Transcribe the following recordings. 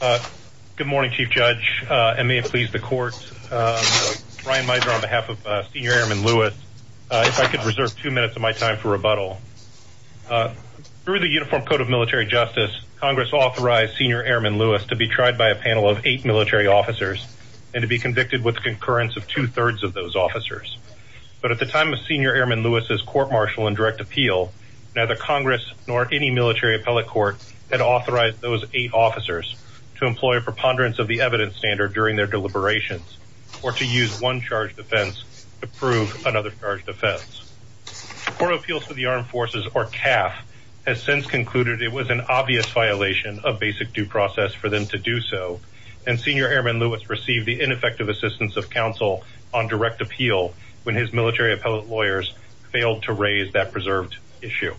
Good morning, chief judge, and may it please the court, Brian Mizer on behalf of senior airman Lewis, if I could reserve two minutes of my time for rebuttal. Through the Uniform Code of Military Justice, Congress authorized senior airman Lewis to be tried by a panel of eight military officers, and to be convicted with concurrence of two thirds of those officers. But at the time of senior airman Lewis's court martial and direct appeal, neither Congress nor any military appellate court had to employ a preponderance of the evidence standard during their deliberations, or to use one charge defense to prove another charge defense. Court of Appeals for the Armed Forces or CAF has since concluded it was an obvious violation of basic due process for them to do so. And senior airman Lewis received the ineffective assistance of counsel on direct appeal when his military appellate lawyers failed to raise that preserved issue.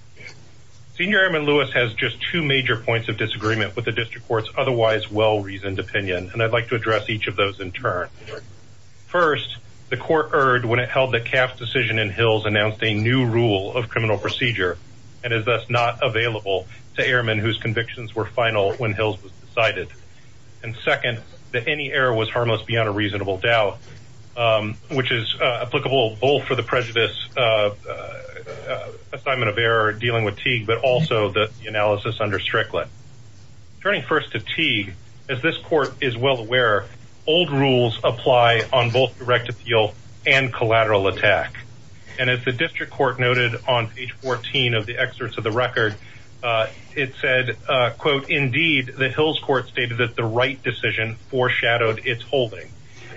Senior airman Lewis has just two major points of district court's otherwise well reasoned opinion, and I'd like to address each of those in turn. First, the court heard when it held the CAF decision in Hills announced a new rule of criminal procedure, and is thus not available to airmen whose convictions were final when Hills was decided. And second, that any error was harmless beyond a reasonable doubt, which is applicable both for the prejudice assignment of error dealing with Teague, but also the analysis under Strickland. Turning first to Teague, as this court is well aware, old rules apply on both direct appeal and collateral attack. And as the district court noted on page 14 of the excerpts of the record, it said, quote, Indeed, the Hills court stated that the right decision foreshadowed its holding.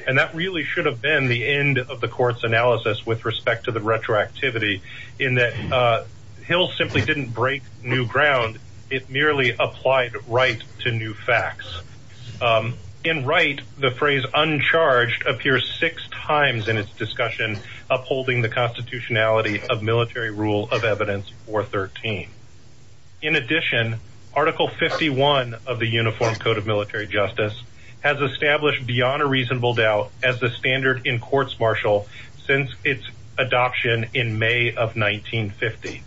And that really should have been the end of the court's analysis with respect to the retroactivity in that Hill simply didn't break new ground. It merely applied right to new facts. In right, the phrase uncharged appears six times in its discussion, upholding the constitutionality of military rule of evidence for 13. In addition, Article 51 of the Uniform Code of Military Justice, has established beyond a reasonable doubt as the standard in courts martial since its adoption in May of 1950.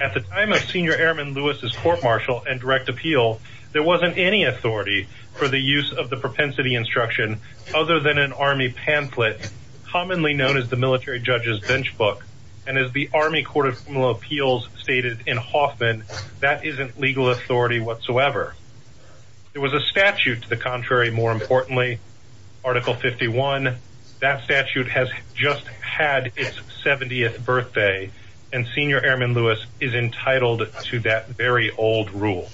At the time of Senior Airman Lewis's court martial and direct appeal, there wasn't any authority for the use of the propensity instruction, other than an army pamphlet, commonly known as the military judges bench book. And as the Army Court of Formal Appeals stated in Hoffman, that isn't legal authority whatsoever. It was a statute to the contrary. More importantly, Article 51, that statute has just had its 70th birthday, and Senior Airman Lewis is entitled to that very old rule.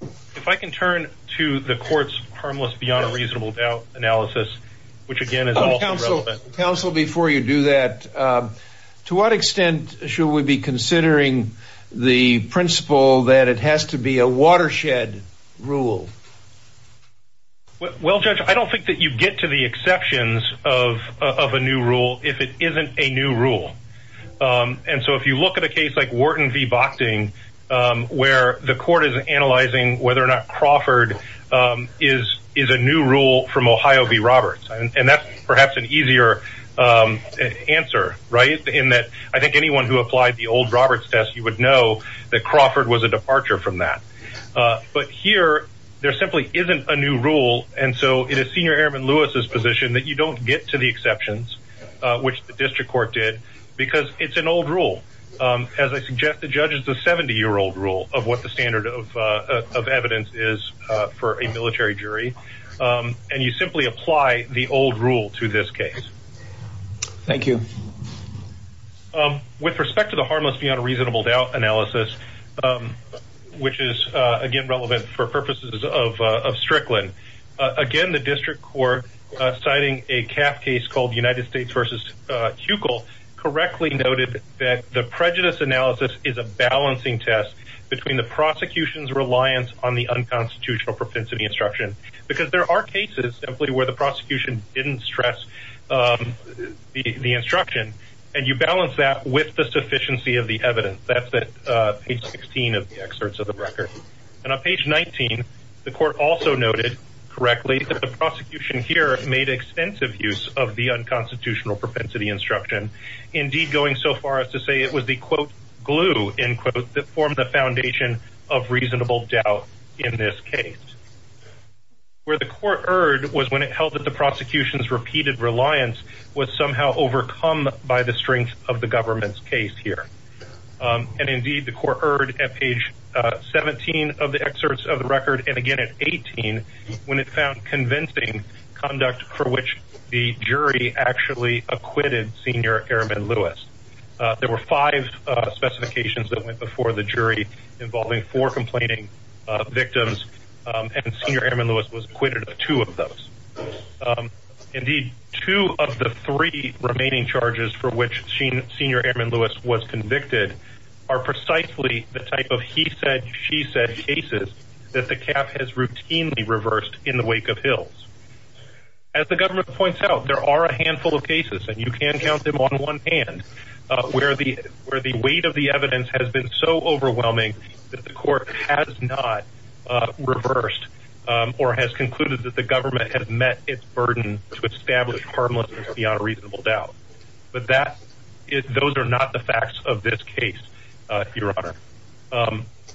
If I can turn to the court's harmless beyond a reasonable doubt analysis, which again is also Council before you do that, to what extent should we be considering the principle that it has to be a watershed rule? Well, Judge, I don't think that you get to the exceptions of a new rule if it isn't a new rule. And so if you look at a case like Wharton v. Boxing, where the court is analyzing whether or not Crawford is a new rule from Ohio v. Roberts, and that's perhaps an easier answer, right? In that I think anyone who applied the old Roberts test, you would know that Crawford was a departure from that. But here, there simply isn't a new rule. And so it is Senior Airman Lewis's position that you don't get to the exceptions, which the district court did, because it's an old rule. As I suggest, the judge is the 70 year old rule of what the standard of evidence is for a military jury. And you simply apply the old rule to this case. Thank you. With respect to the harmless beyond a reasonable doubt analysis, which is, again, relevant for purposes of Strickland. Again, the district court, citing a CAF case called United States v. Huckel, correctly noted that the prejudice analysis is a balancing test between the prosecution's reliance on the unconstitutional propensity instruction, because there are cases simply where the prosecution didn't stress the instruction, and you balance that with the sufficiency of the evidence. That's at page 16 of the excerpts of the record. And on page 19, the court also noted correctly that the prosecution here made extensive use of the unconstitutional propensity instruction, indeed going so far as to say it was the quote, glue in quotes that formed the foundation of reasonable doubt in this case. Where the court erred was when it held that the prosecution's repeated reliance was somehow overcome by the strength of the 17 of the excerpts of the record. And again, at 18, when it found convincing conduct for which the jury actually acquitted Senior Airman Lewis, there were five specifications that went before the jury involving four complaining victims, and Senior Airman Lewis was acquitted of two of those. Indeed, two of the three remaining charges for which sheen Senior Airman Lewis was convicted are precisely the type of he said she said cases that the cap has routinely reversed in the wake of hills. As the government points out, there are a handful of cases and you can count them on one hand, where the where the weight of the evidence has been so overwhelming, that the court has not reversed, or has concluded that the government has met its burden to establish harmless beyond reasonable doubt. But that is those are not the facts of this case, Your Honor.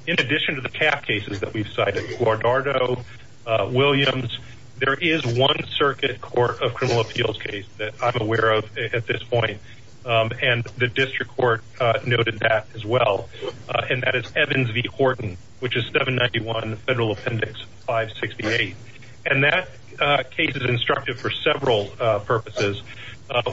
In addition to the cap cases that we've cited Guardardo Williams, there is one circuit court of criminal appeals case that I'm aware of at this point. And the district court noted that as well. And that is Evans v. Horton, which is 791 Federal Appendix 568. And that case is instructive for several purposes.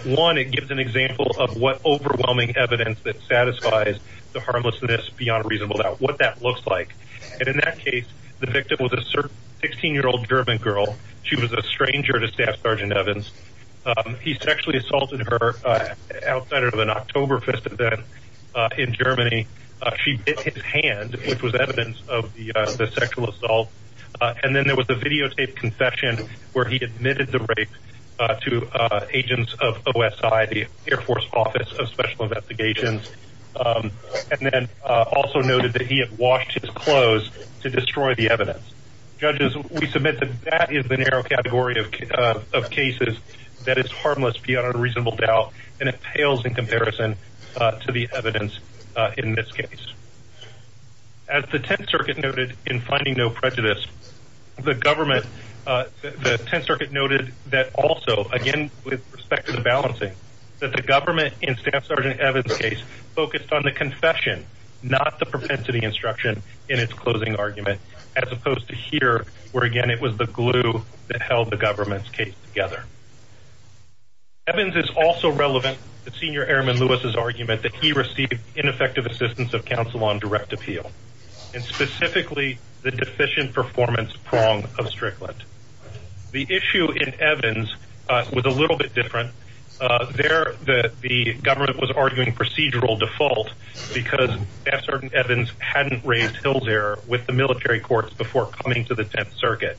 One, it gives an example of what overwhelming evidence that satisfies the harmlessness beyond reasonable doubt what that looks like. And in that case, the victim was a certain 16 year old German girl, she was a stranger to Staff Sergeant Evans. He sexually assaulted her outside of an October fest event. In Germany, she bit his hand, which was evidence of the sexual assault. And then there was a videotaped confession, where he admitted the to agents of OSI, the Air Force Office of Special Investigations. And then also noted that he had washed his clothes to destroy the evidence. Judges, we submit that that is the narrow category of cases that is harmless beyond reasonable doubt. And it pales in comparison to the evidence in this case. As the 10th Circuit noted in finding no prejudice, the government, the 10th Circuit noted that also again, with respect to the balancing that the government in Staff Sergeant Evans case focused on the confession, not the propensity instruction in its closing argument, as opposed to here, where again, it was the glue that held the government's case together. Evans is also relevant to Senior Airman Lewis's argument that he received ineffective assistance of counsel on direct appeal, and specifically the deficient performance prong of Strickland. The issue in Evans was a little bit different. There, the government was arguing procedural default, because Staff Sergeant Evans hadn't raised Hills error with the military courts before coming to the 10th Circuit.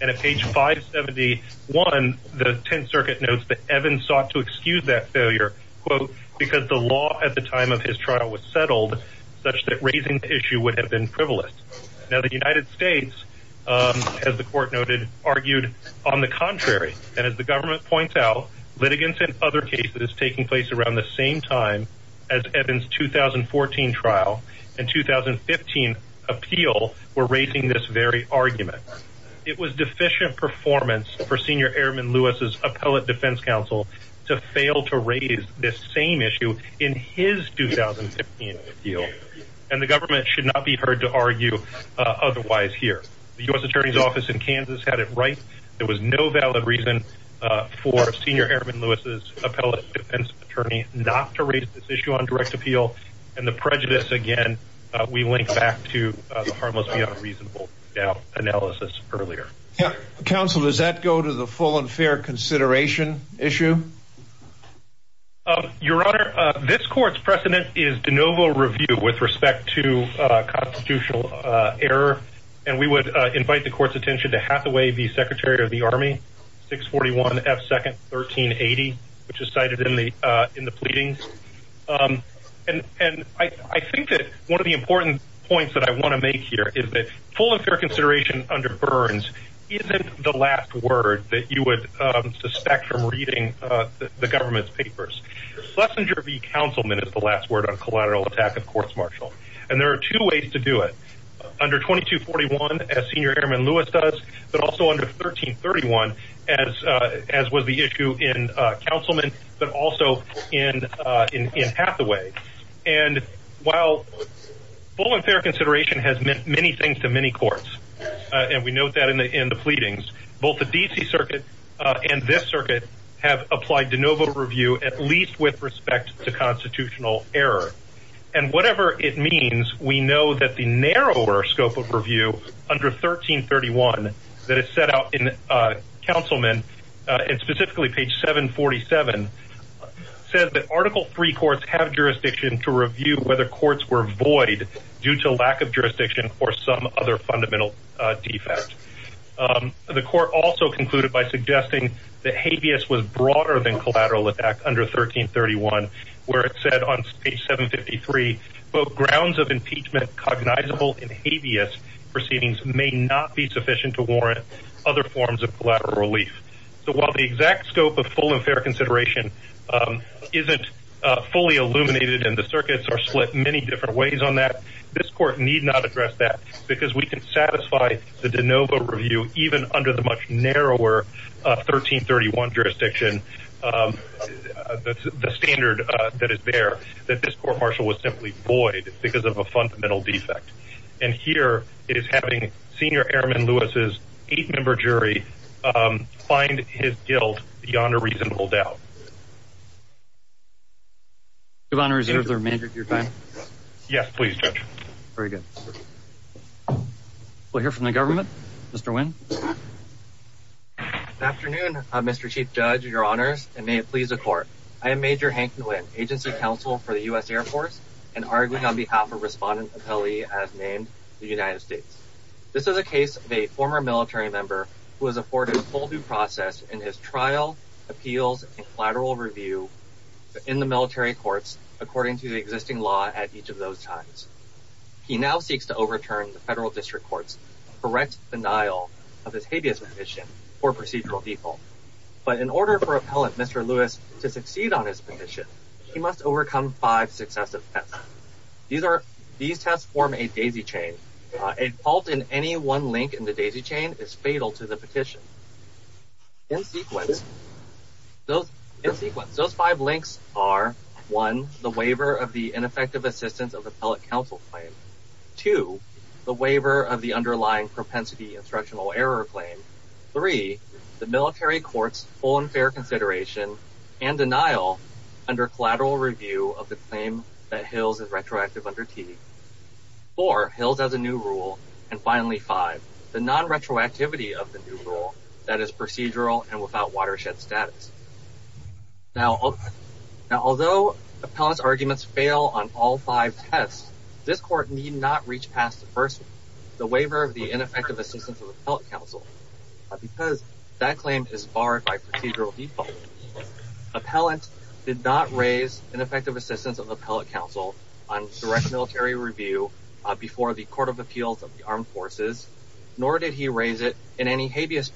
And at page 571, the 10th Circuit notes that Evans sought to excuse that failure, quote, because the law at the time of his trial was settled, such that raising the issue would have been Now the United States, as the court noted, argued, on the contrary, and as the government points out, litigants and other cases taking place around the same time, as Evans 2014 trial, and 2015, appeal, were raising this very argument. It was deficient performance for Senior Airman Lewis's appellate defense counsel to fail to raise this same issue in his 2015 deal. And the government should not be heard to argue. Otherwise here, the US Attorney's Office in Kansas had it right. There was no valid reason for Senior Airman Lewis's appellate defense attorney not to raise this issue on direct appeal. And the prejudice again, we link back to harmless beyond reasonable doubt analysis earlier. Counsel, does that go to the full and fair consideration issue? Your Honor, this court's precedent is de novo review with respect to constitutional error. And we would invite the court's attention to Hathaway, the Secretary of the Army 641 F second 1380, which is cited in the in the pleadings. And I think that one of the important points that I want to make here is that full and fair consideration under Burns isn't the last word that you would suspect from reading the government's papers. Schlesinger v. Councilman is the last word on collateral attack of courts martial. And there are two ways to do it. Under 2241, as Senior Airman Lewis does, but also under 1331, as, as was the issue in Councilman, but also in in Hathaway. And while full and fair consideration has meant many things to many courts, and we note that in the in the both the DC circuit, and this circuit have applied de novo review, at least with respect to constitutional error. And whatever it means, we know that the narrower scope of review under 1331, that is set out in Councilman, and specifically page 747, says that Article Three courts have jurisdiction for some other fundamental defects. The court also concluded by suggesting that habeas was broader than collateral attack under 1331, where it said on page 753, both grounds of impeachment cognizable in habeas proceedings may not be sufficient to warrant other forms of collateral relief. So while the exact scope of full and fair consideration isn't fully illuminated, and the circuits are split many different ways on that, this court need not address that because we can satisfy the de novo review even under the much narrower 1331 jurisdiction. That's the standard that is there, that this court martial was simply void because of a fundamental defect. And here it is having Senior Airman Lewis's eight member jury find his guilt beyond a reasonable doubt. Your Honor, is there a manager at your time? Yes, please, Judge. Very good. We'll hear from the government. Mr. Nguyen. Afternoon, Mr. Chief Judge, Your Honors, and may it please the court. I am Major Hank Nguyen, Agency Counsel for the US Air Force, and arguing on behalf of Respondent Appellee as named the United States. This is a case of a former military member who has afforded a full due process in his trial, appeals, and review in the military courts, according to the existing law at each of those times. He now seeks to overturn the federal district courts correct denial of his habeas petition for procedural default. But in order for Appellant Mr. Lewis to succeed on his petition, he must overcome five successive tests. These are these tests form a daisy chain, a fault in any one link in the daisy chain is fatal to the petition. In sequence, those in sequence, those five links are one, the waiver of the ineffective assistance of appellate counsel claim to the waiver of the underlying propensity instructional error claim. Three, the military courts on fair consideration and denial under collateral review of the claim that hills is retroactive under T or hills as a new rule. And finally, five, the non retroactivity of the new rule that is procedural and without watershed status. Now, although appellants arguments fail on all five tests, this court need not reach past the first, the waiver of the ineffective assistance of appellate counsel, because that claim is barred by procedural default. Appellant did not raise an effective assistance of appellate counsel on direct military review before the Court of Appeals of the Armed Forces, nor did he raise it in any direct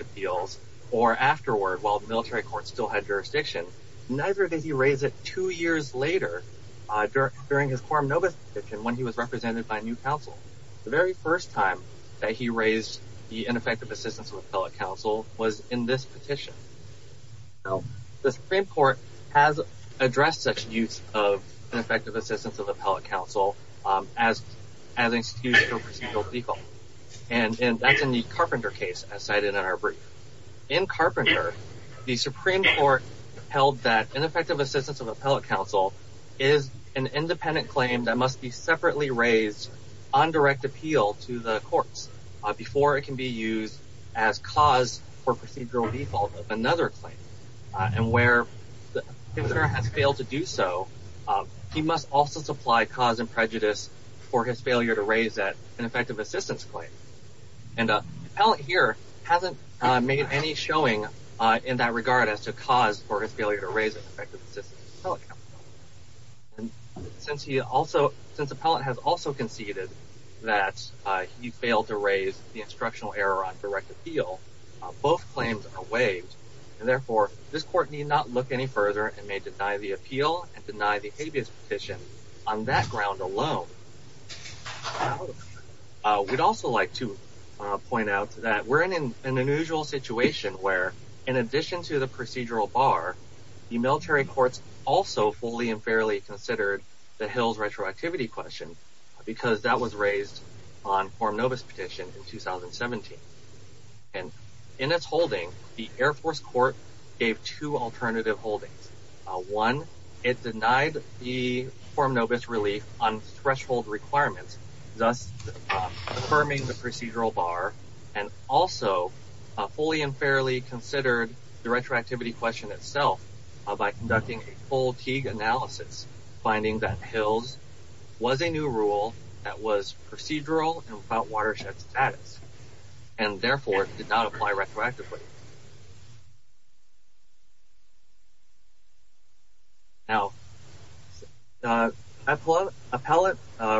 appeals or afterward while the military court still had jurisdiction, neither did he raise it two years later, during his quorum Novus petition when he was represented by new counsel. The very first time that he raised the ineffective assistance of appellate counsel was in this petition. Now, the Supreme Court has addressed such use of ineffective assistance of appellate counsel as, as excuse for procedural default. And in the Carpenter case, as cited in our brief, in Carpenter, the Supreme Court held that ineffective assistance of appellate counsel is an independent claim that must be separately raised on direct appeal to the courts before it can be used as cause for procedural default of another claim. And where the consumer has failed to do so, he must also supply cause and prejudice for his failure to raise that effective assistance claim. And appellate here hasn't made any showing in that regard as to cause for his failure to raise an effective assistance of appellate counsel. And since he also, since appellate has also conceded that he failed to raise the instructional error on direct appeal, both claims are waived. And therefore, this court need not look any further and may deny the appeal and deny the habeas petition on that We'd also like to point out that we're in an unusual situation where in addition to the procedural bar, the military courts also fully and fairly considered the Hills retroactivity question, because that was raised on form Novus petition in 2017. And in its holding, the Air Force Court gave two alternative holdings. One, it denied the form Novus relief on threshold requirements, thus affirming the procedural bar, and also fully and fairly considered the retroactivity question itself by conducting a full Teague analysis, finding that Hills was a new rule that was procedural and without watershed status, and therefore did not apply retroactively. Now, the appellate appellate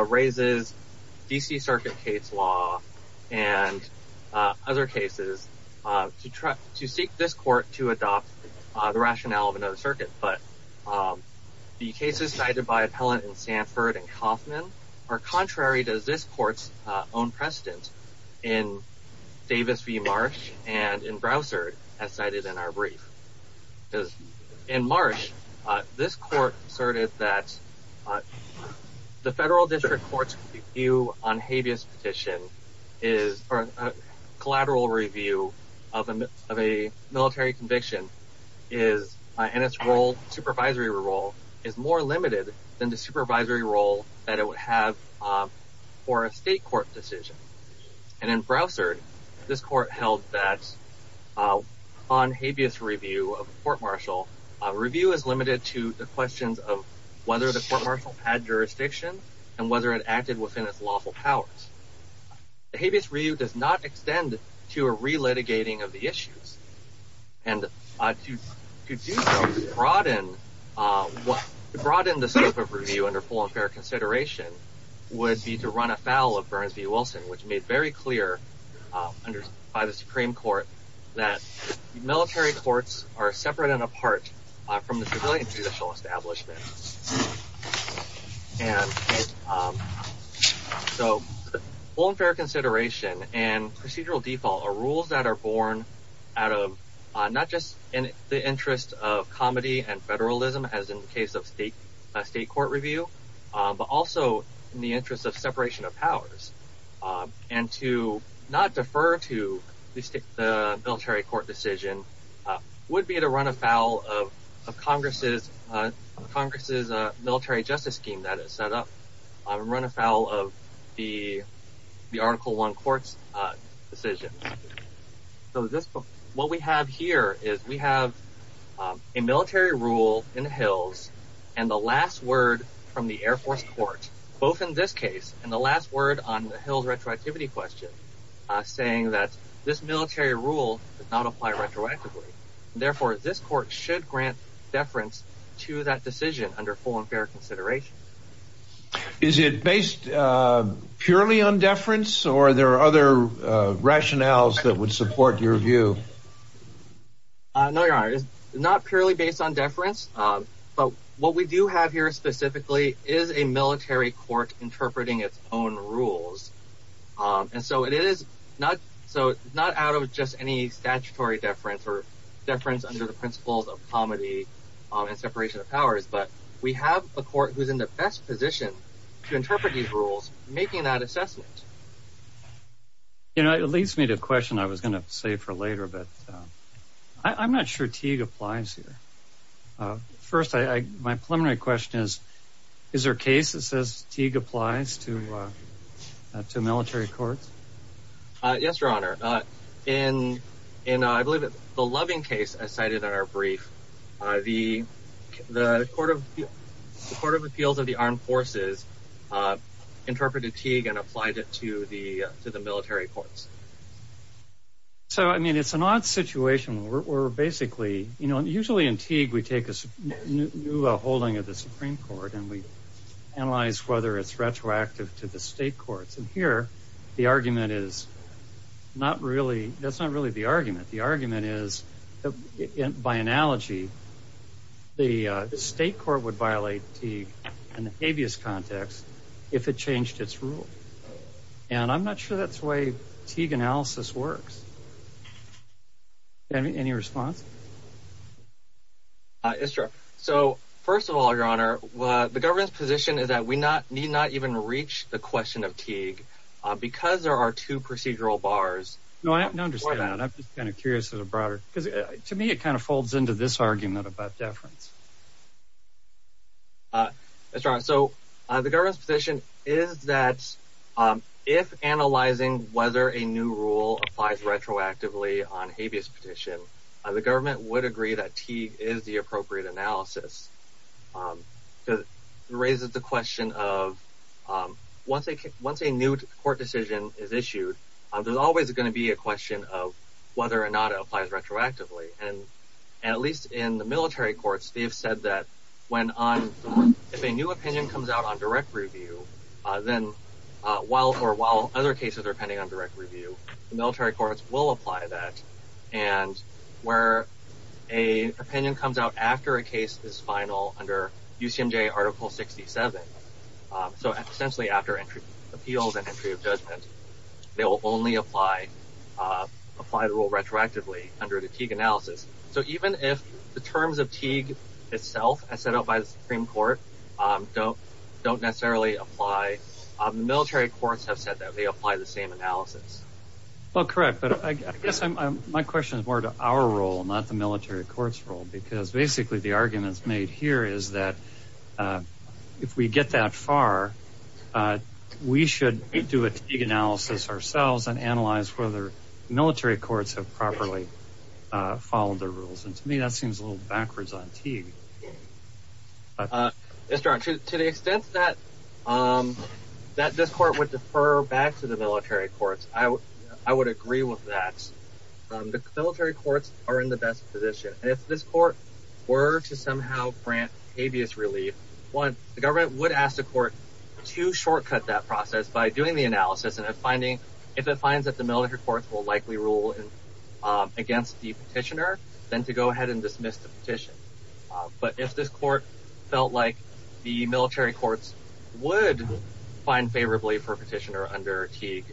raises DC Circuit case law, and other cases to try to seek this court to adopt the rationale of another circuit. But the cases cited by appellant in Sanford and Kaufman are contrary to this court's own precedent in Davis as cited in our brief. Because in March, this court asserted that the federal district court's view on habeas petition is a collateral review of a of a military conviction is in its role, supervisory role is more limited than the supervisory role that it would have for a state court decision. And in on habeas review of court martial review is limited to the questions of whether the court martial had jurisdiction, and whether it acted within its lawful powers. The habeas review does not extend to a re litigating of the issues. And I choose to broaden what brought in the scope of review under full and fair consideration would be to run afoul of Burns v. Wilson, which made very clear under by the Supreme Court, that military courts are separate and apart from the civilian judicial establishment. And so, full and fair consideration and procedural default are rules that are born out of not just in the interest of comedy and federalism, as in the case of state, state court review, but also in the interest of separation of powers. And to not defer to the state, the military court decision would be to run afoul of Congress's Congress's military justice scheme that is set up, run afoul of the article one courts decision. So this book, what we have here is we have a military rule in the hills. And the last word from the Air Force Court, both in this case, and the last word on the hills retroactivity question, saying that this military rule does not apply retroactively. Therefore, this court should grant deference to that decision under full and fair consideration. Is it based purely on deference? Or there are other rationales that would support your view? No, your honor is not purely based on deference. But what we do have here specifically is a military court interpreting its own rules. And so it is not so not out of just any statutory deference or deference under the principles of comedy, and separation of powers, but we have a court who's in the best position to interpret these rules making that assessment. You know, it leads me to a question I was going to say for later, but I'm not sure T applies here. First, I my preliminary question is, is there cases as Teague applies to, to military courts? Yes, your honor. In, in, I believe it's the loving case I cited in our brief, the, the Court of Court of Appeals of the Armed Forces, interpreted Teague and applied it to the to the military courts. So I mean, it's an odd situation where we're basically, you know, the ruling of the Supreme Court, and we analyze whether it's retroactive to the state courts. And here, the argument is not really, that's not really the argument. The argument is, by analogy, the state court would violate the habeas context, if it changed its rule. And I'm not sure that's the way Teague analysis works. Any response? Is there? So first of all, your honor, the government's position is that we not need not even reach the question of Teague, because there are two procedural bars. No, I understand that. I'm just kind of curious as a broader, because to me, it kind of folds into this argument about deference. That's right. So the government's position is that if analyzing whether a new rule applies retroactively on habeas petition, the government would agree that Teague is the appropriate analysis. Because it raises the question of, once a once a new court decision is issued, there's always going to be a question of whether or not it applies retroactively. And at least in the military courts, they've said that when on, if a new opinion comes out on direct review, then while or while other cases are pending on direct review, the military courts will apply that. And where a opinion comes out after a case is final under UCMJ article 67. So essentially, after entry, appeals and entry of judgment, they will only apply, apply the rule retroactively under the Teague analysis. So even if the terms of Teague itself as set up by the Supreme Court, don't don't necessarily apply, military courts have said that they apply the same analysis. Well, correct. But I guess my question is more to our role, not the military courts role. Because basically, the arguments made here is that if we get that far, we should do a Teague analysis ourselves and analyze whether military courts have properly followed the rules. And to me, that seems a little backwards on Teague. Mr. Archer, to the extent that this court would defer back to the military courts, I would agree with that. The military courts are in the best position. And if this court were to somehow grant habeas relief, one, the government would ask the court to shortcut that process by doing the analysis and finding, if it finds that the military courts will likely rule against the petitioner, then to go ahead and dismiss the petition. But if this court felt like the military courts would find favorably for petitioner under Teague,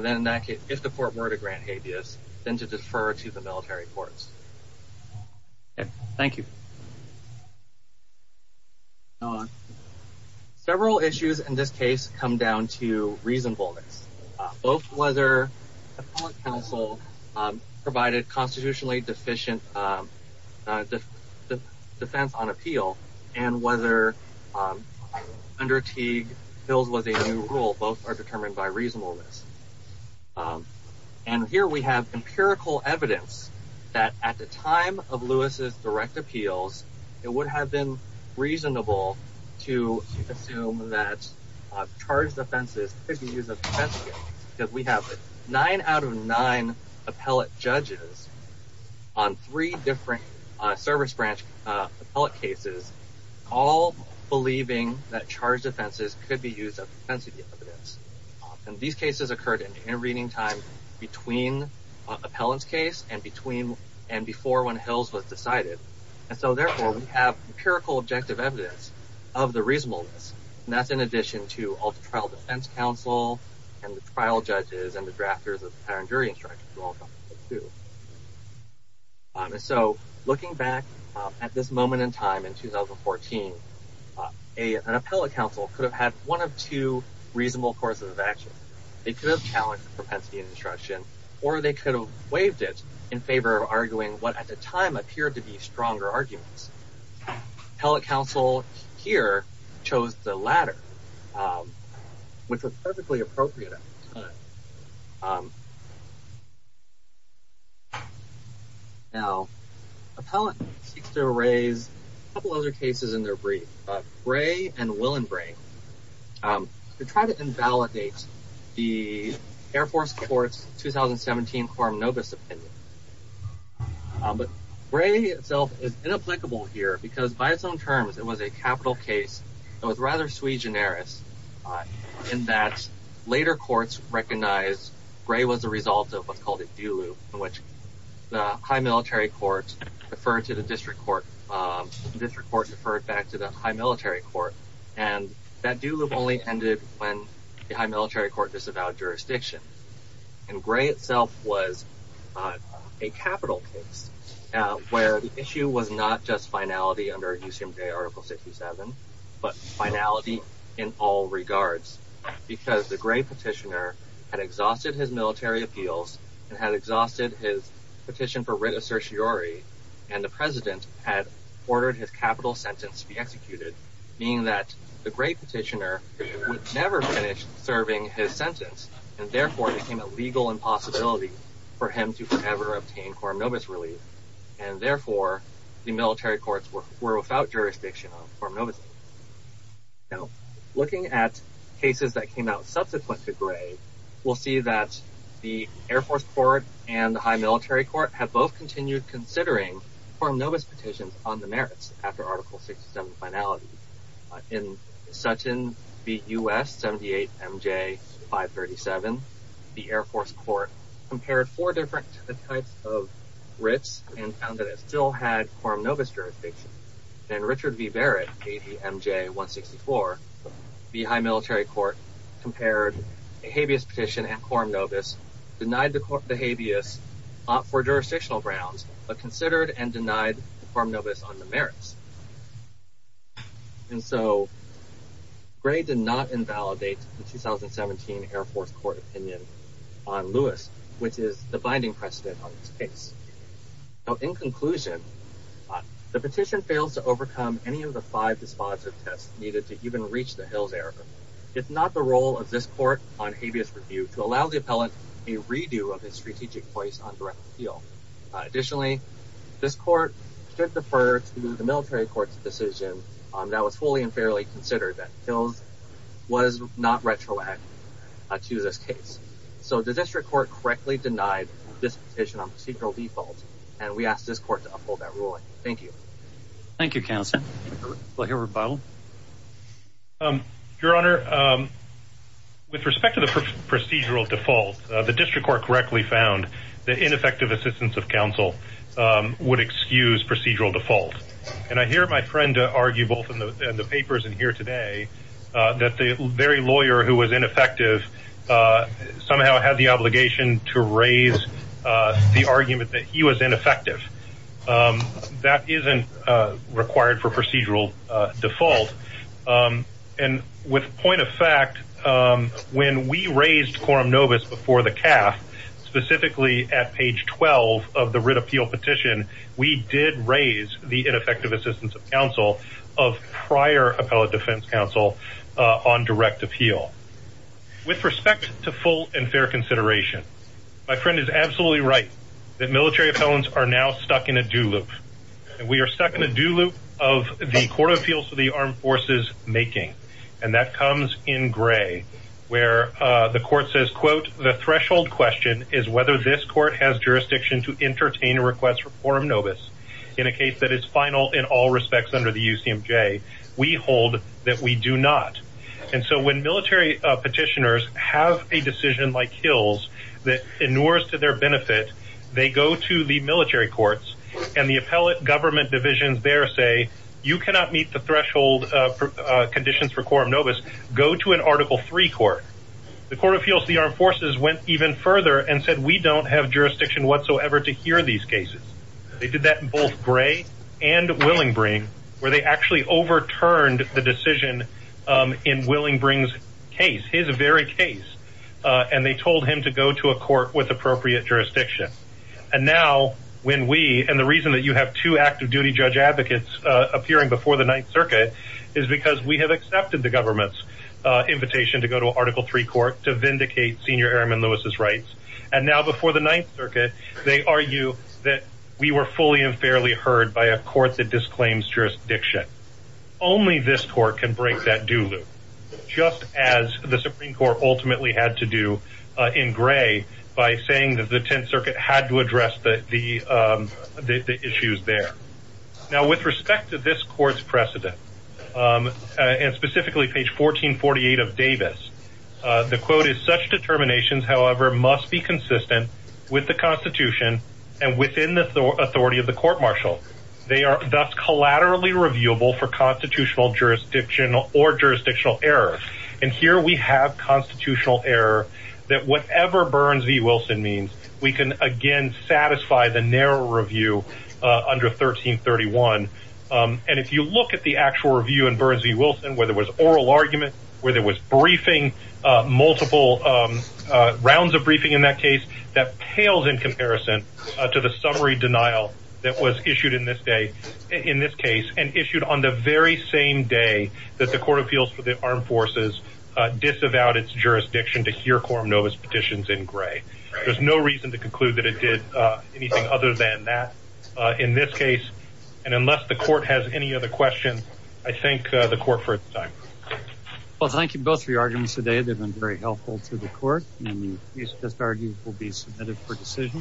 then that case, if the court were to grant habeas, then to defer to the military courts. Thank you. Several issues in this case come down to reasonableness, both whether counsel provided constitutionally deficient defense on appeal, and whether under Teague, Hills was a new rule, both are determined by reasonableness. And here we have empirical evidence that at the time of Lewis's direct appeals, it would have been reasonable to assume that charged offenses could be used as defense because we have nine out of nine appellate judges on three different service branch appellate cases, all believing that charged offenses could be used as evidence. And these cases occurred in reading time between appellants case and between and before when Hills was decided. And so therefore, we have empirical objective evidence of the reasonableness. And that's in addition to all the trial defense counsel, and the trial judges and the parent jury instructors. So looking back at this moment in time in 2014, an appellate counsel could have had one of two reasonable courses of action. They could have challenged propensity and instruction, or they could have waived it in favor of arguing what at the time appeared to be stronger arguments. Appellate counsel here chose the latter, which was perfectly appropriate. Now, appellant seeks to raise a couple other cases in their brief, Bray and Willenbray, to try to invalidate the Air Force Courts 2017 quorum novus opinion. But Bray itself is inapplicable here because by its own terms, it was a capital case. It was rather sui generis, in that later courts recognize Bray was a result of what's called a do loop in which the high military court referred to the district court, district court referred back to the high military court. And that do loop only ended when the high military court disavowed jurisdiction. And Bray itself was a capital case, where the issue was not just finality under USMJ article 67, but finality in all regards, because the great petitioner had exhausted his military appeals and had exhausted his petition for writ of certiorari. And the president had ordered his capital sentence to be executed, meaning that the great petitioner would never finish serving his sentence, and therefore became a legal impossibility for him to ever obtain quorum novus relief. And were without jurisdiction on quorum novus relief. Now, looking at cases that came out subsequent to Bray, we'll see that the Air Force Court and the high military court have both continued considering quorum novus petitions on the merits after article 67 finality. In Sutton v. U.S. 78 M.J. 537, the Air Force Court compared four different types of writs and found that it still had quorum novus jurisdiction. And Richard v. Barrett v. M.J. 164, the high military court compared a habeas petition and quorum novus, denied the habeas for jurisdictional grounds, but considered and denied quorum novus on the merits. And so Bray did not invalidate the 2017 Air Force Court opinion on Lewis, which is the binding precedent on this conclusion. The petition fails to overcome any of the five responsive tests needed to even reach the Hills era. It's not the role of this court on habeas review to allow the appellant a redo of his strategic voice on direct appeal. Additionally, this court should defer to the military court's decision on that was fully and fairly considered that Hills was not retroactive to this case. So the district court correctly denied this petition on procedural defaults. And we asked this court to uphold that ruling. Thank you. Thank you, counsel. We'll hear rebuttal. Your Honor, with respect to the procedural default, the district court correctly found that ineffective assistance of counsel would excuse procedural default. And I hear my friend argue both in the papers in here today, that the very lawyer who was ineffective, somehow had the obligation to raise the argument that he was ineffective. That isn't required for procedural default. And with point of fact, when we raised quorum novus before the CAF, specifically at page 12 of the writ appeal petition, we did raise the ineffective assistance of counsel of prior appellate defense counsel on direct appeal. With respect to full and fair consideration, my friend is absolutely right that military felons are now stuck in a do loop. And we are stuck in a do loop of the court of appeals for the armed forces making, and that comes in gray, where the court says, quote, the threshold question is whether this court has jurisdiction to entertain a request for quorum novus in a case that is final in all respects under the UCMJ, we military petitioners have a decision like Hills, that in wars to their benefit, they go to the military courts, and the appellate government divisions there say, you cannot meet the threshold conditions for quorum novus, go to an article three court, the court of appeals, the armed forces went even further and said, we don't have jurisdiction whatsoever to hear these cases. They did that in both gray and willing bring, where they actually overturned the decision in willing brings case, his very case, and they told him to go to a court with appropriate jurisdiction. And now, when we and the reason that you have to active duty judge advocates appearing before the Ninth Circuit, is because we have accepted the government's invitation to go to article three court to vindicate senior airmen Lewis's rights. And now before the Ninth Circuit, they argue that we were fully and fairly heard by a court that disclaims jurisdiction. Only this court can break that do just as the Supreme Court ultimately had to do in gray by saying that the Tenth Circuit had to address the the issues there. Now, with respect to this court's precedent, and specifically page 1448 of Davis, the quote is such determinations, however, must be consistent with the Constitution. And within the authority of the court martial, they are thus collaterally reviewable for constitutional jurisdiction or jurisdictional error. And here we have constitutional error, that whatever Burns v. Wilson means, we can, again, satisfy the narrow review under 1331. And if you look at the actual review in Burns v. Wilson, where there was oral argument, where there was briefing, multiple rounds of briefing in that case, that pales in comparison to the summary denial that was issued in this day, in this case, and issued on the very same day that the Court of Appeals for the Armed Forces disavowed its jurisdiction to hear quorum novus petitions in gray. There's no reason to conclude that it did anything other than that, in this case. And unless the court has any other questions, I thank the court for time. Well, thank you both for your arguments today. They've been very helpful to the court. And these just argued will be submitted for decision.